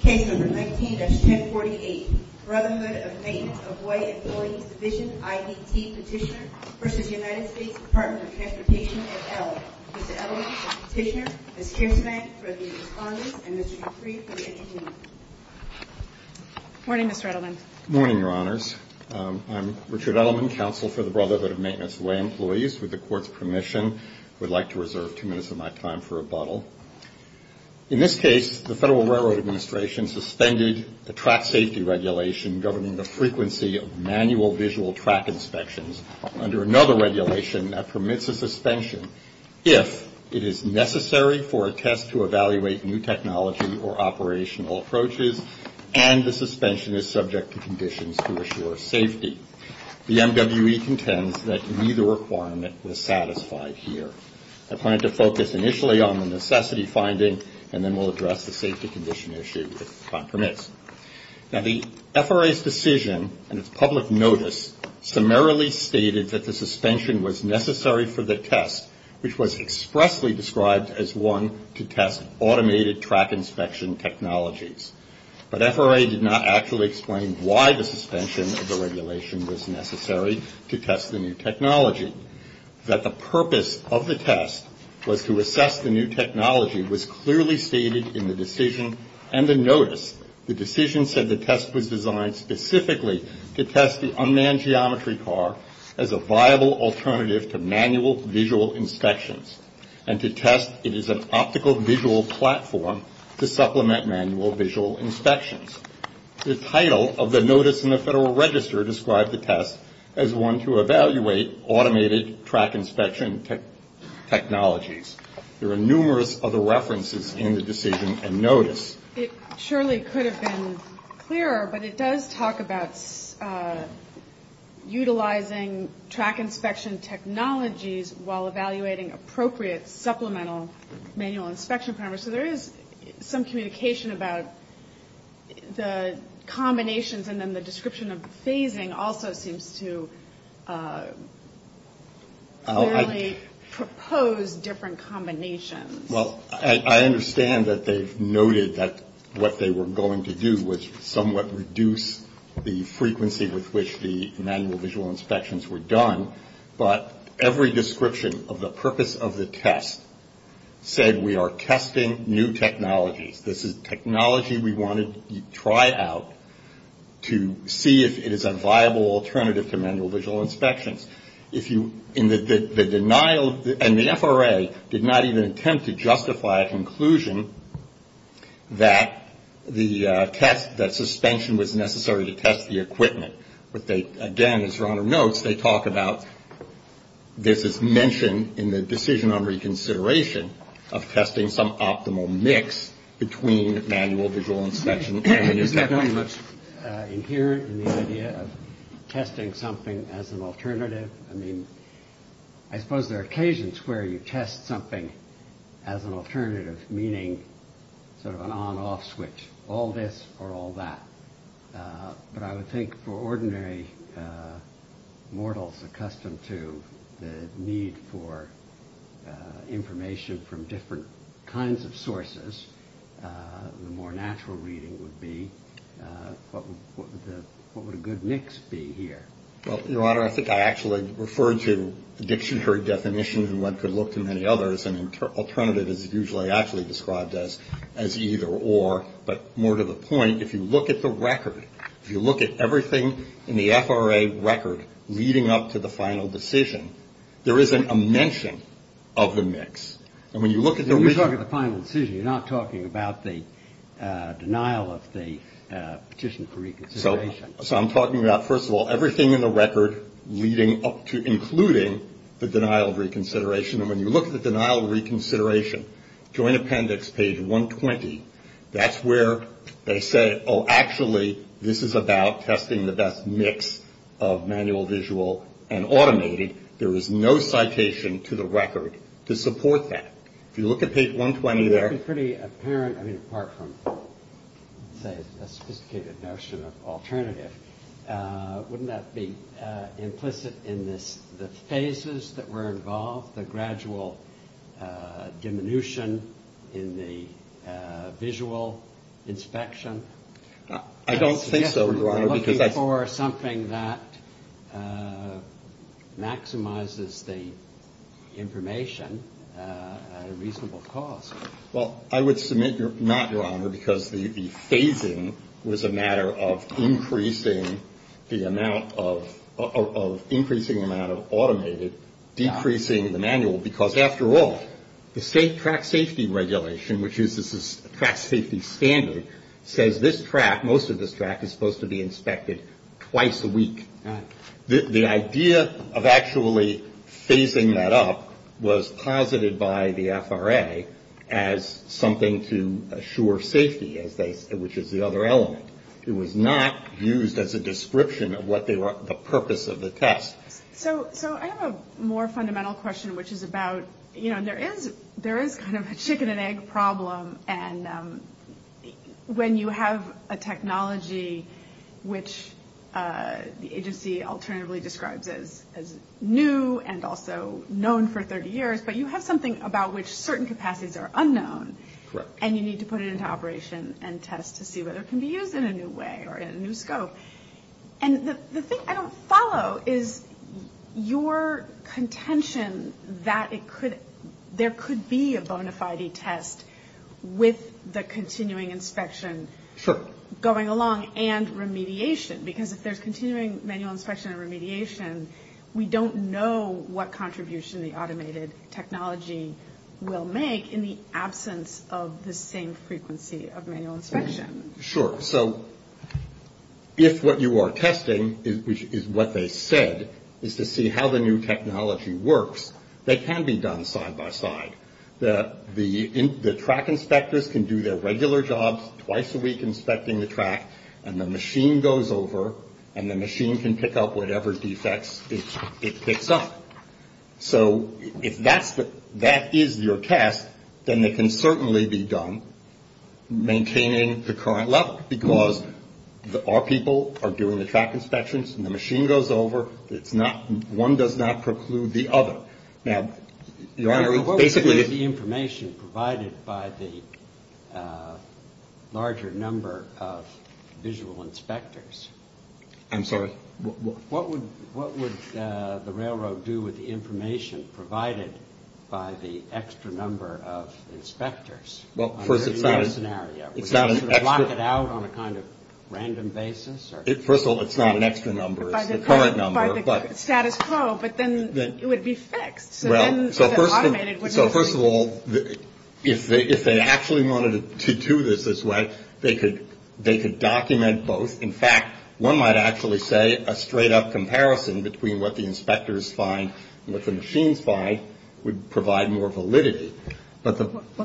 Case number 19-1048, Brotherhood of Maintenance of Way Employees Division, I.D.T. Petitioner v. United States Department of Transportation, et al. Mr. Edelman, Mr. Petitioner, Ms. Kinsman, for the respondents, and Mr. Dupree for the interview. Good morning, Mr. Edelman. Good morning, Your Honors. I'm Richard Edelman, counsel for the Brotherhood of Maintenance of Way Employees. With the Court's permission, I would like to reserve two minutes of my time for rebuttal. In this case, the Federal Railroad Administration suspended the track safety regulation governing the frequency of manual visual track inspections under another regulation that permits a suspension if it is necessary for a test to evaluate new technology or operational approaches and the suspension is subject to conditions to assure safety. The MWE contends that neither requirement was satisfied here. I plan to focus initially on the necessity finding and then we'll address the safety condition issue if time permits. Now, the FRA's decision and its public notice summarily stated that the suspension was necessary for the test, which was expressly described as one to test automated track inspection technologies. But FRA did not actually explain why the suspension of the regulation was necessary to test the new technology. That the purpose of the test was to assess the new technology was clearly stated in the decision and the notice. The decision said the test was designed specifically to test the unmanned geometry car as a viable alternative to manual visual inspections and to test it as an optical visual platform to supplement manual visual inspections. The title of the notice in the Federal Register described the test as one to evaluate automated track inspection technologies. There are numerous other references in the decision and notice. It surely could have been clearer, but it does talk about utilizing track inspection technologies while evaluating appropriate supplemental manual inspection parameters. So there is some communication about the combinations and then the description of phasing also seems to clearly propose different combinations. Well, I understand that they've noted that what they were going to do was somewhat reduce the frequency with which the manual visual inspections were done. But every description of the purpose of the test said we are testing new technologies. This is technology we want to try out to see if it is a viable alternative to manual visual inspections. And the FRA did not even attempt to justify a conclusion that the test, that suspension was necessary to test the equipment. But they, again, as your Honor notes, they talk about this is mentioned in the decision on reconsideration of testing some optimal mix between manual visual inspections. Is that not much inherent in the idea of testing something as an alternative? I mean, I suppose there are occasions where you test something as an alternative, meaning sort of an on-off switch, all this or all that. But I would think for ordinary mortals accustomed to the need for information from different kinds of sources, the more natural reading would be what would a good mix be here? Well, your Honor, I think I actually referred to the dictionary definition and what could look to many others and alternative is usually actually described as either or. But more to the point, if you look at the record, if you look at everything in the FRA record leading up to the final decision, there isn't a mention of the mix. And when you look at the original. You're talking about the final decision. You're not talking about the denial of the petition for reconsideration. So I'm talking about, first of all, everything in the record leading up to including the denial of reconsideration. And when you look at the denial of reconsideration, joint appendix, page 120, that's where they say, oh, actually, this is about testing the best mix of manual, visual, and automated. There is no citation to the record to support that. If you look at page 120 there. I mean, apart from a sophisticated notion of alternative, wouldn't that be implicit in the phases that were involved, the gradual diminution in the visual inspection? I don't think so, Your Honor. I'm looking for something that maximizes the information at a reasonable cost. Well, I would submit not, Your Honor, because the phasing was a matter of increasing the amount of, increasing the amount of automated, decreasing the manual. Because, after all, the state track safety regulation, which uses this track safety standard, says this track, most of this track, is supposed to be inspected twice a week. The idea of actually phasing that up was posited by the FRA as something to assure safety, which is the other element. It was not used as a description of what the purpose of the test. So I have a more fundamental question, which is about, you know, there is kind of a chicken and egg problem. And when you have a technology which the agency alternatively describes as new and also known for 30 years, but you have something about which certain capacities are unknown, and you need to put it into operation and test to see whether it can be used in a new way or in a new scope. And the thing I don't follow is your contention that it could, there could be a bona fide test with the continuing inspection going along and remediation. Because if there's continuing manual inspection and remediation, we don't know what contribution the automated technology will make in the absence of the same frequency of manual inspection. Sure. So if what you are testing, which is what they said, is to see how the new technology works, they can be done side by side. The track inspectors can do their regular jobs twice a week inspecting the track, and the machine goes over and the machine can pick up whatever defects it picks up. So if that is your test, then they can certainly be done maintaining the current level. Because our people are doing the track inspections and the machine goes over. It's not, one does not preclude the other. Now, Your Honor, basically. What would be the information provided by the larger number of visual inspectors? I'm sorry? What would the railroad do with the information provided by the extra number of inspectors? Well, first, it's not a. Under your scenario. It's not an extra. Would you sort of lock it out on a kind of random basis? First of all, it's not an extra number. It's the current number. By the status quo. But then it would be fixed. Well, so first of all, if they actually wanted to do this this way, they could document both. In fact, one might actually say a straight up comparison between what the inspectors find and what the machines find would provide more validity. Well,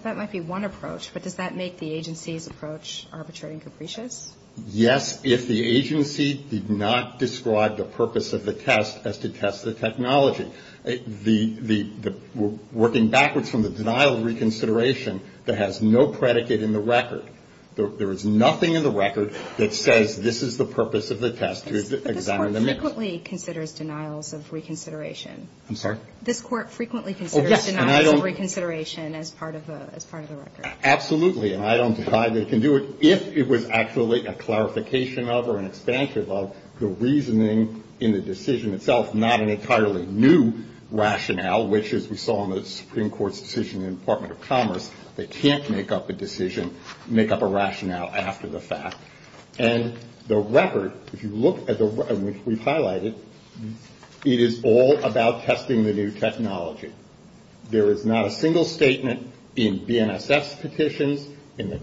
that might be one approach. But does that make the agency's approach arbitrary and capricious? Yes, if the agency did not describe the purpose of the test as to test the technology. Working backwards from the denial of reconsideration that has no predicate in the record. There is nothing in the record that says this is the purpose of the test. This court frequently considers denials of reconsideration. I'm sorry? This court frequently considers denials of reconsideration as part of the record. Absolutely. And I don't deny they can do it. If it was actually a clarification of or an expansion of the reasoning in the decision itself, not an entirely new rationale, which, as we saw in the Supreme Court's decision in the Department of Commerce, they can't make up a decision, make up a rationale after the fact. And the record, if you look at the record, which we've highlighted, it is all about testing the new technology. There is not a single statement in BNSF's petitions, in the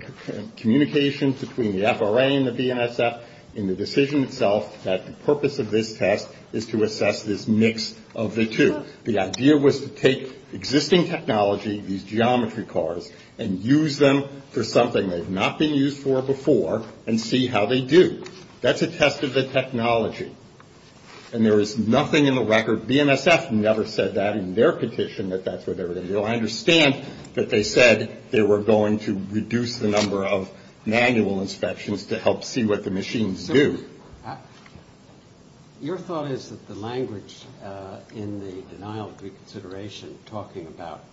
communication between the FRA and the BNSF, in the decision itself that the purpose of this test is to assess this mix of the two. The idea was to take existing technology, these geometry cars, and use them for something they've not been used for before and see how they do. That's a test of the technology. And there is nothing in the record, BNSF never said that in their petition, that that's what they were going to do. I understand that they said they were going to reduce the number of manual inspections to help see what the machines do. Your thought is that the language in the denial of reconsideration, talking about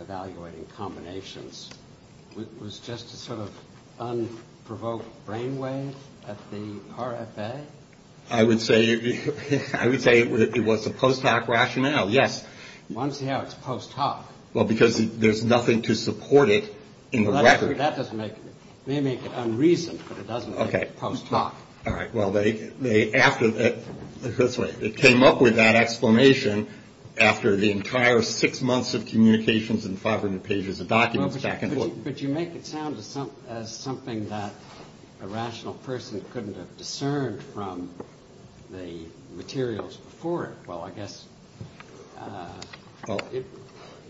evaluating combinations, was just a sort of unprovoked brainwave at the RFA? I would say it was a post-hoc rationale, yes. I want to see how it's post-hoc. Well, because there's nothing to support it in the record. It may make it unreasoned, but it doesn't make it post-hoc. All right. Well, it came up with that explanation after the entire six months of communications and 500 pages of documents back and forth. But you make it sound as something that a rational person couldn't have discerned from the materials before it. Well, I guess.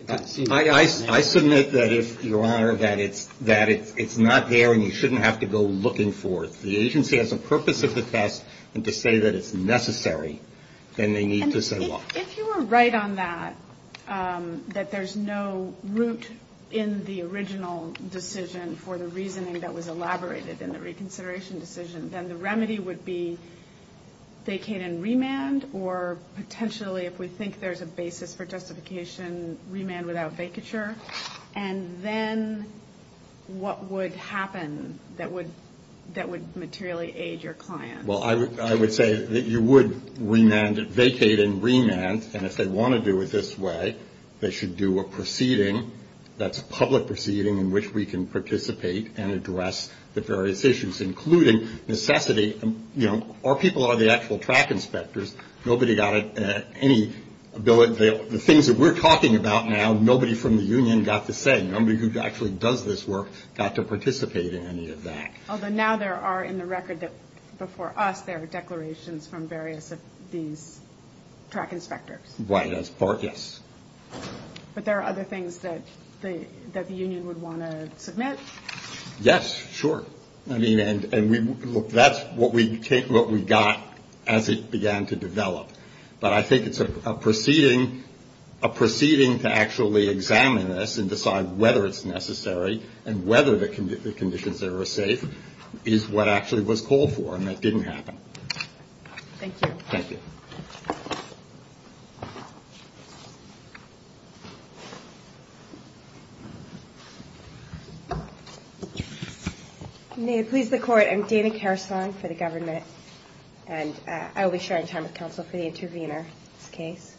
I submit that, Your Honor, that it's not there and you shouldn't have to go looking for it. The agency has a purpose of the test, and to say that it's necessary, then they need to say what. If you were right on that, that there's no root in the original decision for the reasoning that was elaborated in the reconsideration decision, then the remedy would be vacate and remand, or potentially, if we think there's a basis for justification, remand without vacature. And then what would happen that would materially aid your client? Well, I would say that you would vacate and remand, and if they want to do it this way, they should do a proceeding. That's a public proceeding in which we can participate and address the various issues, including necessity. Our people are the actual track inspectors. Nobody got any ability. The things that we're talking about now, nobody from the union got to say. Nobody who actually does this work got to participate in any of that. Although now there are, in the record before us, there are declarations from various of these track inspectors. Right. Yes. But there are other things that the union would want to submit? Yes, sure. I mean, and that's what we got as it began to develop. But I think it's a proceeding to actually examine this and decide whether it's necessary and whether the conditions that are safe is what actually was called for, and that didn't happen. Thank you. Thank you. May it please the Court. I'm Dana Karasong for the government, and I will be sharing time with counsel for the intervener in this case.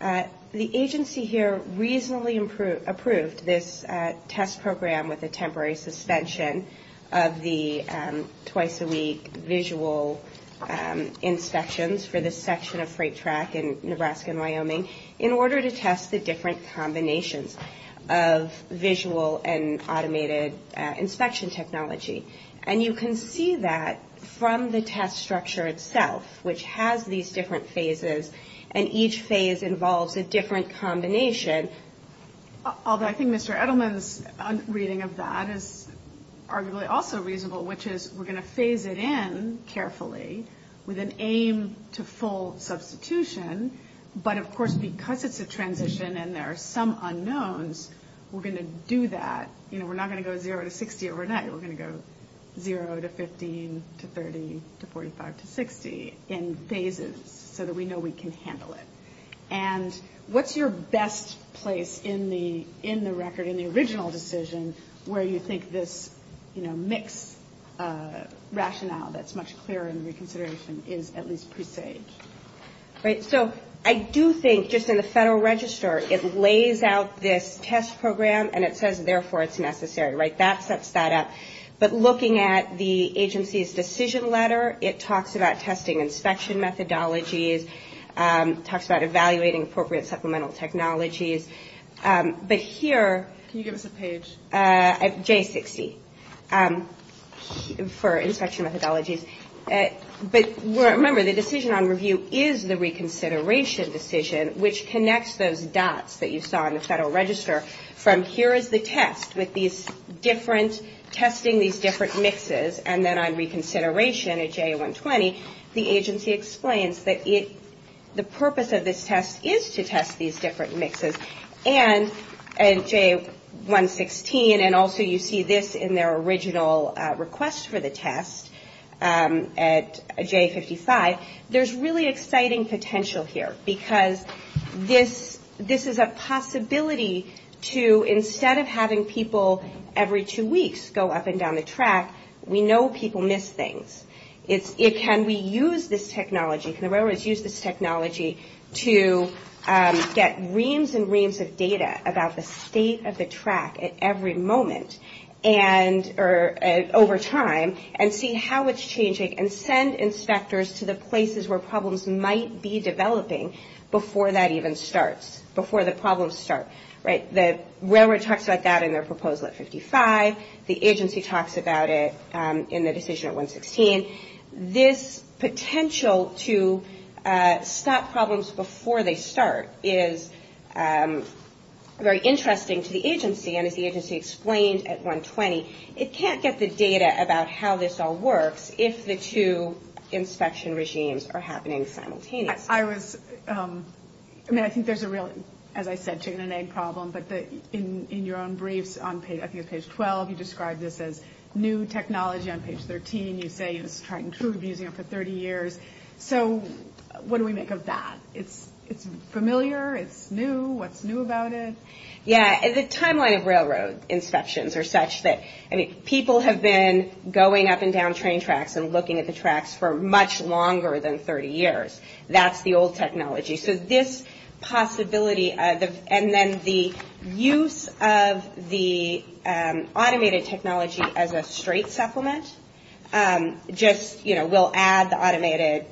The agency here reasonably approved this test program with a temporary suspension of the twice-a-week visual inspections for this section of freight track in Nebraska and Wyoming in order to test the different combinations of visual and automated inspection technology. And you can see that from the test structure itself, which has these different phases, and each phase involves a different combination. Although I think Mr. Edelman's reading of that is arguably also reasonable, which is we're going to phase it in carefully with an aim to full substitution, but of course because it's a transition and there are some unknowns, we're going to do that. You know, we're not going to go zero to 60 overnight. We're going to go zero to 15 to 30 to 45 to 60 in phases so that we know we can handle it. And what's your best place in the record, in the original decision, where you think this, you know, mix rationale that's much clearer in reconsideration is at least presaged? Right. So I do think just in the Federal Register it lays out this test program and it says, therefore, it's necessary. Right? That sets that up. But looking at the agency's decision letter, it talks about testing inspection methodologies, talks about evaluating appropriate supplemental technologies. But here- Can you give us a page? J60 for inspection methodologies. But remember, the decision on review is the reconsideration decision, which connects those dots that you saw in the Federal Register from here is the test with these different, testing these different mixes, and then on reconsideration at J120, the agency explains that the purpose of this test is to test these different mixes. And J116, and also you see this in their original request for the test at J55, there's really exciting potential here because this is a possibility to, instead of having people every two weeks go up and down the track, we know people miss things. Can we use this technology? Can the railroads use this technology to get reams and reams of data about the state of the track at every moment over time and see how it's changing and send inspectors to the places where problems might be developing before that even starts, before the problems start, right? The railroad talks about that in their proposal at 55. The agency talks about it in the decision at 116. This potential to stop problems before they start is very interesting to the agency, and as the agency explained at 120, it can't get the data about how this all works if the two inspection regimes are happening simultaneously. I was, I mean, I think there's a real, as I said, chicken and egg problem, but in your own briefs, I think it's page 12, you describe this as new technology. On page 13, you say it's trying to improve using it for 30 years. So what do we make of that? It's familiar, it's new, what's new about it? Yeah, the timeline of railroad inspections are such that, I mean, people have been going up and down train tracks and looking at the tracks for much longer than 30 years. That's the old technology. So this possibility, and then the use of the automated technology as a straight supplement, just, you know, we'll add the automated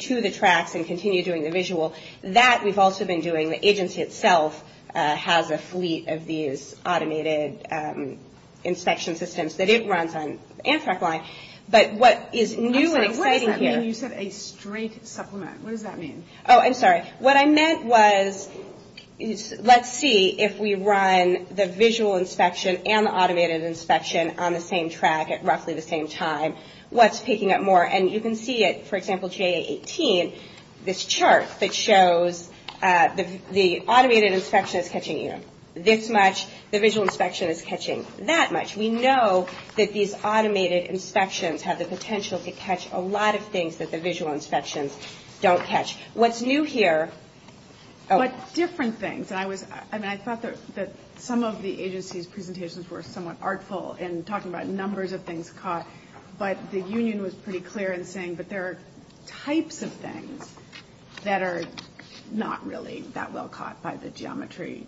to the tracks and continue doing the visual. That we've also been doing. The agency itself has a fleet of these automated inspection systems that it runs on Amtrak line. But what is new and exciting here. So you said a straight supplement. What does that mean? Oh, I'm sorry. What I meant was, let's see if we run the visual inspection and the automated inspection on the same track at roughly the same time. What's picking up more? And you can see it, for example, GA-18, this chart that shows the automated inspection is catching this much, the visual inspection is catching that much. We know that these automated inspections have the potential to catch a lot of things that the visual inspections don't catch. What's new here. But different things. I thought that some of the agency's presentations were somewhat artful in talking about numbers of things caught. But the union was pretty clear in saying that there are types of things that are not really that well caught by the geometry.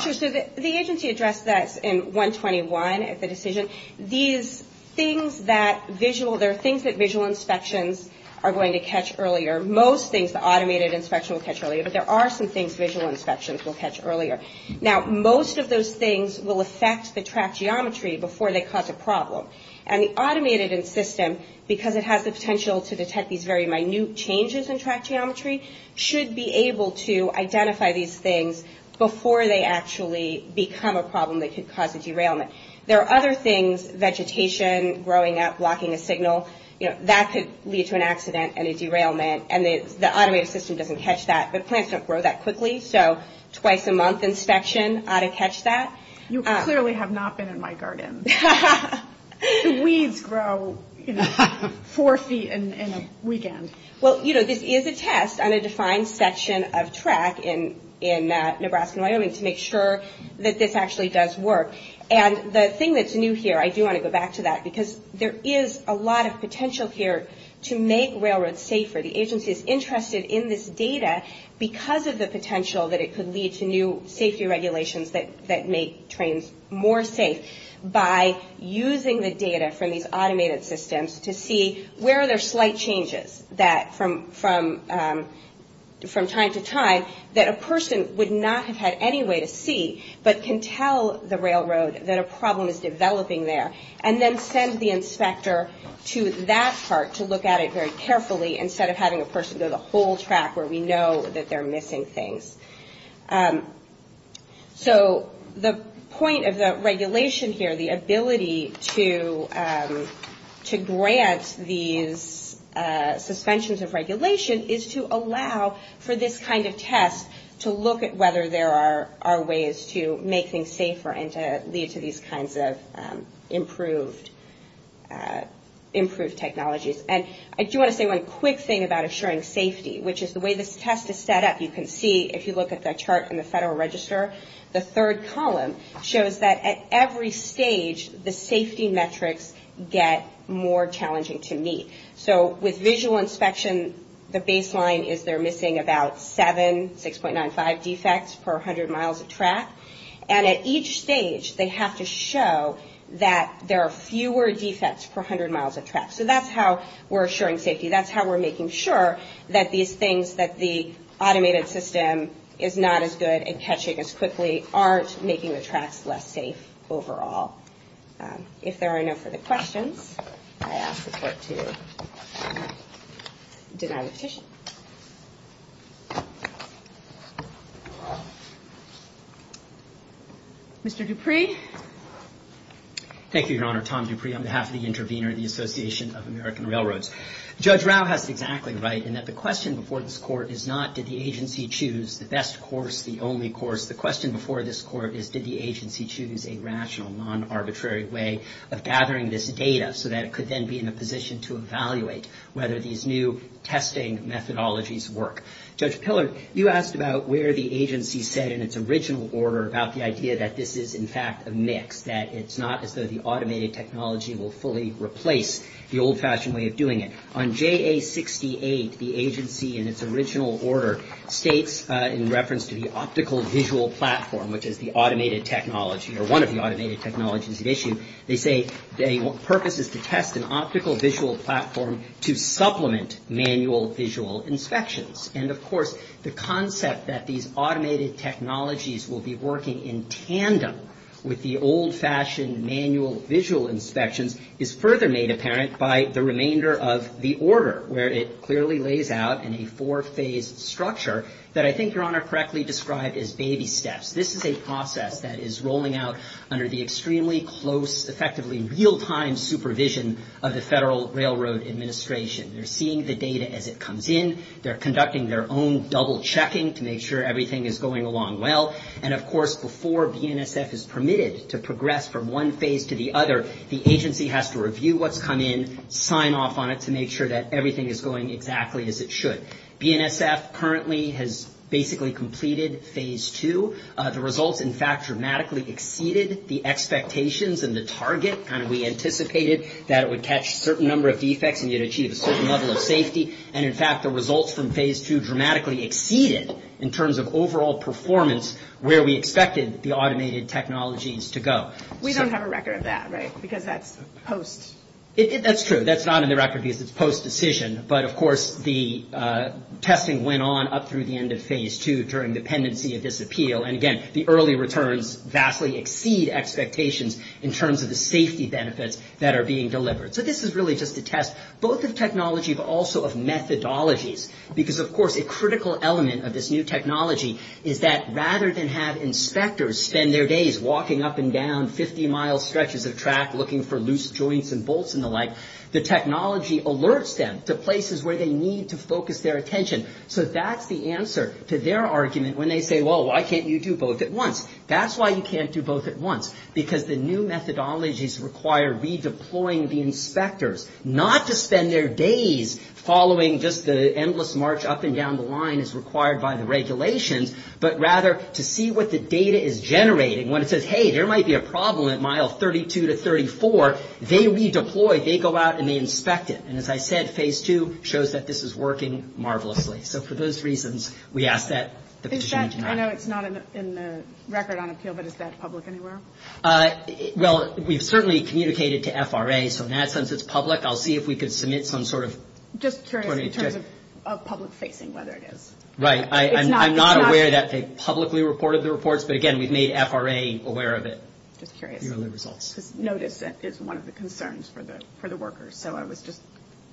Sure. So the agency addressed this in 121 at the decision. These things that visual, there are things that visual inspections are going to catch earlier. Most things the automated inspection will catch earlier. But there are some things visual inspections will catch earlier. Now, most of those things will affect the track geometry before they cause a problem. And the automated system, because it has the potential to detect these very minute changes in track geometry, should be able to identify these things before they actually become a problem that could cause a derailment. There are other things, vegetation growing up, blocking a signal, that could lead to an accident and a derailment. And the automated system doesn't catch that. But plants don't grow that quickly. So twice a month inspection ought to catch that. You clearly have not been in my garden. The weeds grow four feet in a weekend. Well, you know, this is a test on a defined section of track in Nebraska and Wyoming to make sure that this actually does work. And the thing that's new here, I do want to go back to that, because there is a lot of potential here to make railroads safer. The agency is interested in this data because of the potential that it could lead to new safety regulations that make trains more safe by using the data from these automated systems to see where there are slight changes from time to time that a person would not have had any way to see but can tell the railroad that a problem is developing there and then send the inspector to that part to look at it very carefully instead of having a person go the whole track where we know that they're missing things. So the point of the regulation here, the ability to grant these suspensions of regulation is to allow for this kind of test to look at whether there are ways to make things safer and to lead to these kinds of improved technologies. And I do want to say one quick thing about assuring safety, which is the way this test is set up. You can see, if you look at the chart in the Federal Register, the third column shows that at every stage, the safety metrics get more challenging to meet. So with visual inspection, the baseline is they're missing about 7, 6.95 defects per 100 miles of track. And at each stage, they have to show that there are fewer defects per 100 miles of track. So that's how we're assuring safety. That's how we're making sure that these things that the automated system is not as good at catching as quickly aren't making the tracks less safe overall. If there are no further questions, I ask the Court to deny the petition. Mr. Dupree. Thank you, Your Honor. Tom Dupree on behalf of the intervener of the Association of American Railroads. Judge Rao has exactly right in that the question before this Court is not did the agency choose the best course, the only course. The question before this Court is did the agency choose a rational, non-arbitrary way of gathering this data so that it could then be in a position to evaluate whether these new testing methodologies work. Judge Pillard, you asked about where the agency said in its original order about the idea that this is, in fact, a mix, that it's not as though the automated technology will fully replace the old-fashioned way of doing it. On JA-68, the agency in its original order states in reference to the optical visual platform, which is the automated technology or one of the automated technologies at issue, they say the purpose is to test an optical visual platform to supplement manual visual inspections. And, of course, the concept that these automated technologies will be working in tandem with the old-fashioned manual visual inspections is further made apparent by the remainder of the order, where it clearly lays out in a four-phase structure that I think Your Honor correctly described as baby steps. This is a process that is rolling out under the extremely close, effectively real-time supervision of the Federal Railroad Administration. They're seeing the data as it comes in. They're conducting their own double-checking to make sure everything is going along well. And, of course, before BNSF is permitted to progress from one phase to the other, the agency has to review what's come in, sign off on it to make sure that everything is going exactly as it should. BNSF currently has basically completed phase two. The results, in fact, dramatically exceeded the expectations and the target. We anticipated that it would catch a certain number of defects and you'd achieve a certain level of safety. And, in fact, the results from phase two dramatically exceeded, in terms of overall performance, where we expected the automated technologies to go. We don't have a record of that, right, because that's post. That's true. That's not in the record because it's post-decision. But, of course, the testing went on up through the end of phase two during the pendency of this appeal. And, again, the early returns vastly exceed expectations in terms of the safety benefits that are being delivered. So this is really just a test, both of technology but also of methodologies, because, of course, a critical element of this new technology is that rather than have inspectors spend their days walking up and down 50-mile stretches of track looking for loose joints and bolts and the like, the technology alerts them to places where they need to focus their attention. So that's the answer to their argument when they say, well, why can't you do both at once? That's why you can't do both at once, because the new methodologies require redeploying the inspectors, not to spend their days following just the endless march up and down the line as required by the regulations, but rather to see what the data is generating. When it says, hey, there might be a problem at mile 32 to 34, they redeploy. They go out and they inspect it. And, as I said, Phase 2 shows that this is working marvelously. So for those reasons, we ask that the petition be denied. I know it's not in the record on appeal, but is that public anywhere? Well, we've certainly communicated to FRA, so in that sense it's public. I'll see if we can submit some sort of – Just curious in terms of public facing, whether it is. Right. I'm not aware that they publicly reported the reports, but, again, we've made FRA aware of it. Just curious. Because notice is one of the concerns for the workers. So I was just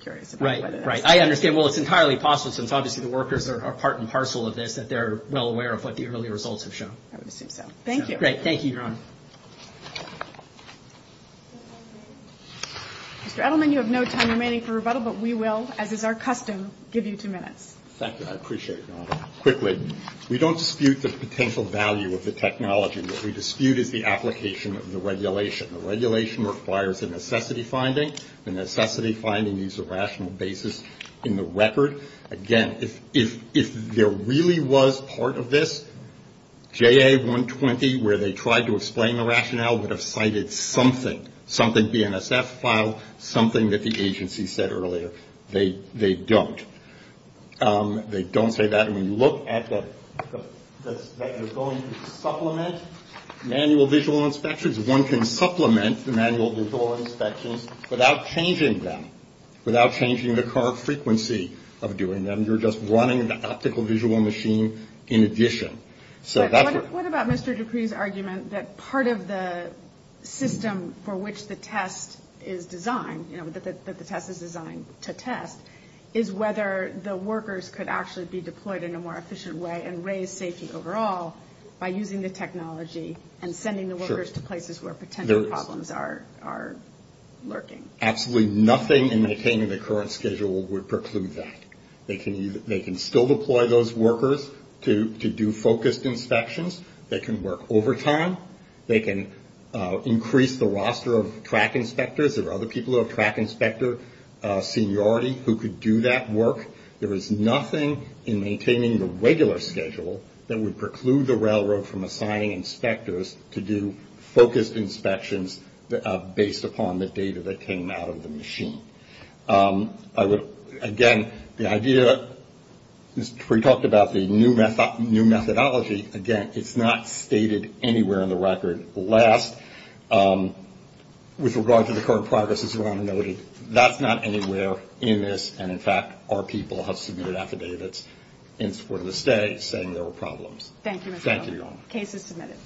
curious about whether that's – Right, right. I understand. Well, it's entirely possible, since obviously the workers are part and parcel of this, that they're well aware of what the early results have shown. I would assume so. Thank you. Great. Thank you, Your Honor. Mr. Edelman, you have no time remaining for rebuttal, but we will, as is our custom, give you two minutes. Thank you. I appreciate it, Your Honor. Quickly, we don't dispute the potential value of the technology. What we dispute is the application of the regulation. The regulation requires a necessity finding. The necessity finding needs a rational basis in the record. Again, if there really was part of this, JA 120, where they tried to explain the rationale, would have cited something, something BNSF filed, something that the agency said earlier. They don't. They don't say that. We look at the fact that they're going to supplement manual visual inspections. One can supplement the manual visual inspections without changing them, without changing the current frequency of doing them. You're just running the optical visual machine in addition. So that's where… What about Mr. Dupree's argument that part of the system for which the test is designed, that the test is designed to test, is whether the workers could actually be deployed in a more efficient way and raise safety overall by using the technology and sending the workers to places where potential problems are lurking. Absolutely nothing in maintaining the current schedule would preclude that. They can still deploy those workers to do focused inspections. They can work overtime. They can increase the roster of track inspectors. There are other people who have track inspector seniority who could do that work. There is nothing in maintaining the regular schedule that would preclude the railroad from assigning inspectors to do focused inspections based upon the data that came out of the machine. Again, the idea… Mr. Dupree talked about the new methodology. Again, it's not stated anywhere in the record. Last, with regard to the current progress, as Your Honor noted, that's not anywhere in this. And, in fact, our people have submitted affidavits in support of the stay saying there were problems. Thank you, Mr. Dupree. Thank you, Your Honor. Case is submitted.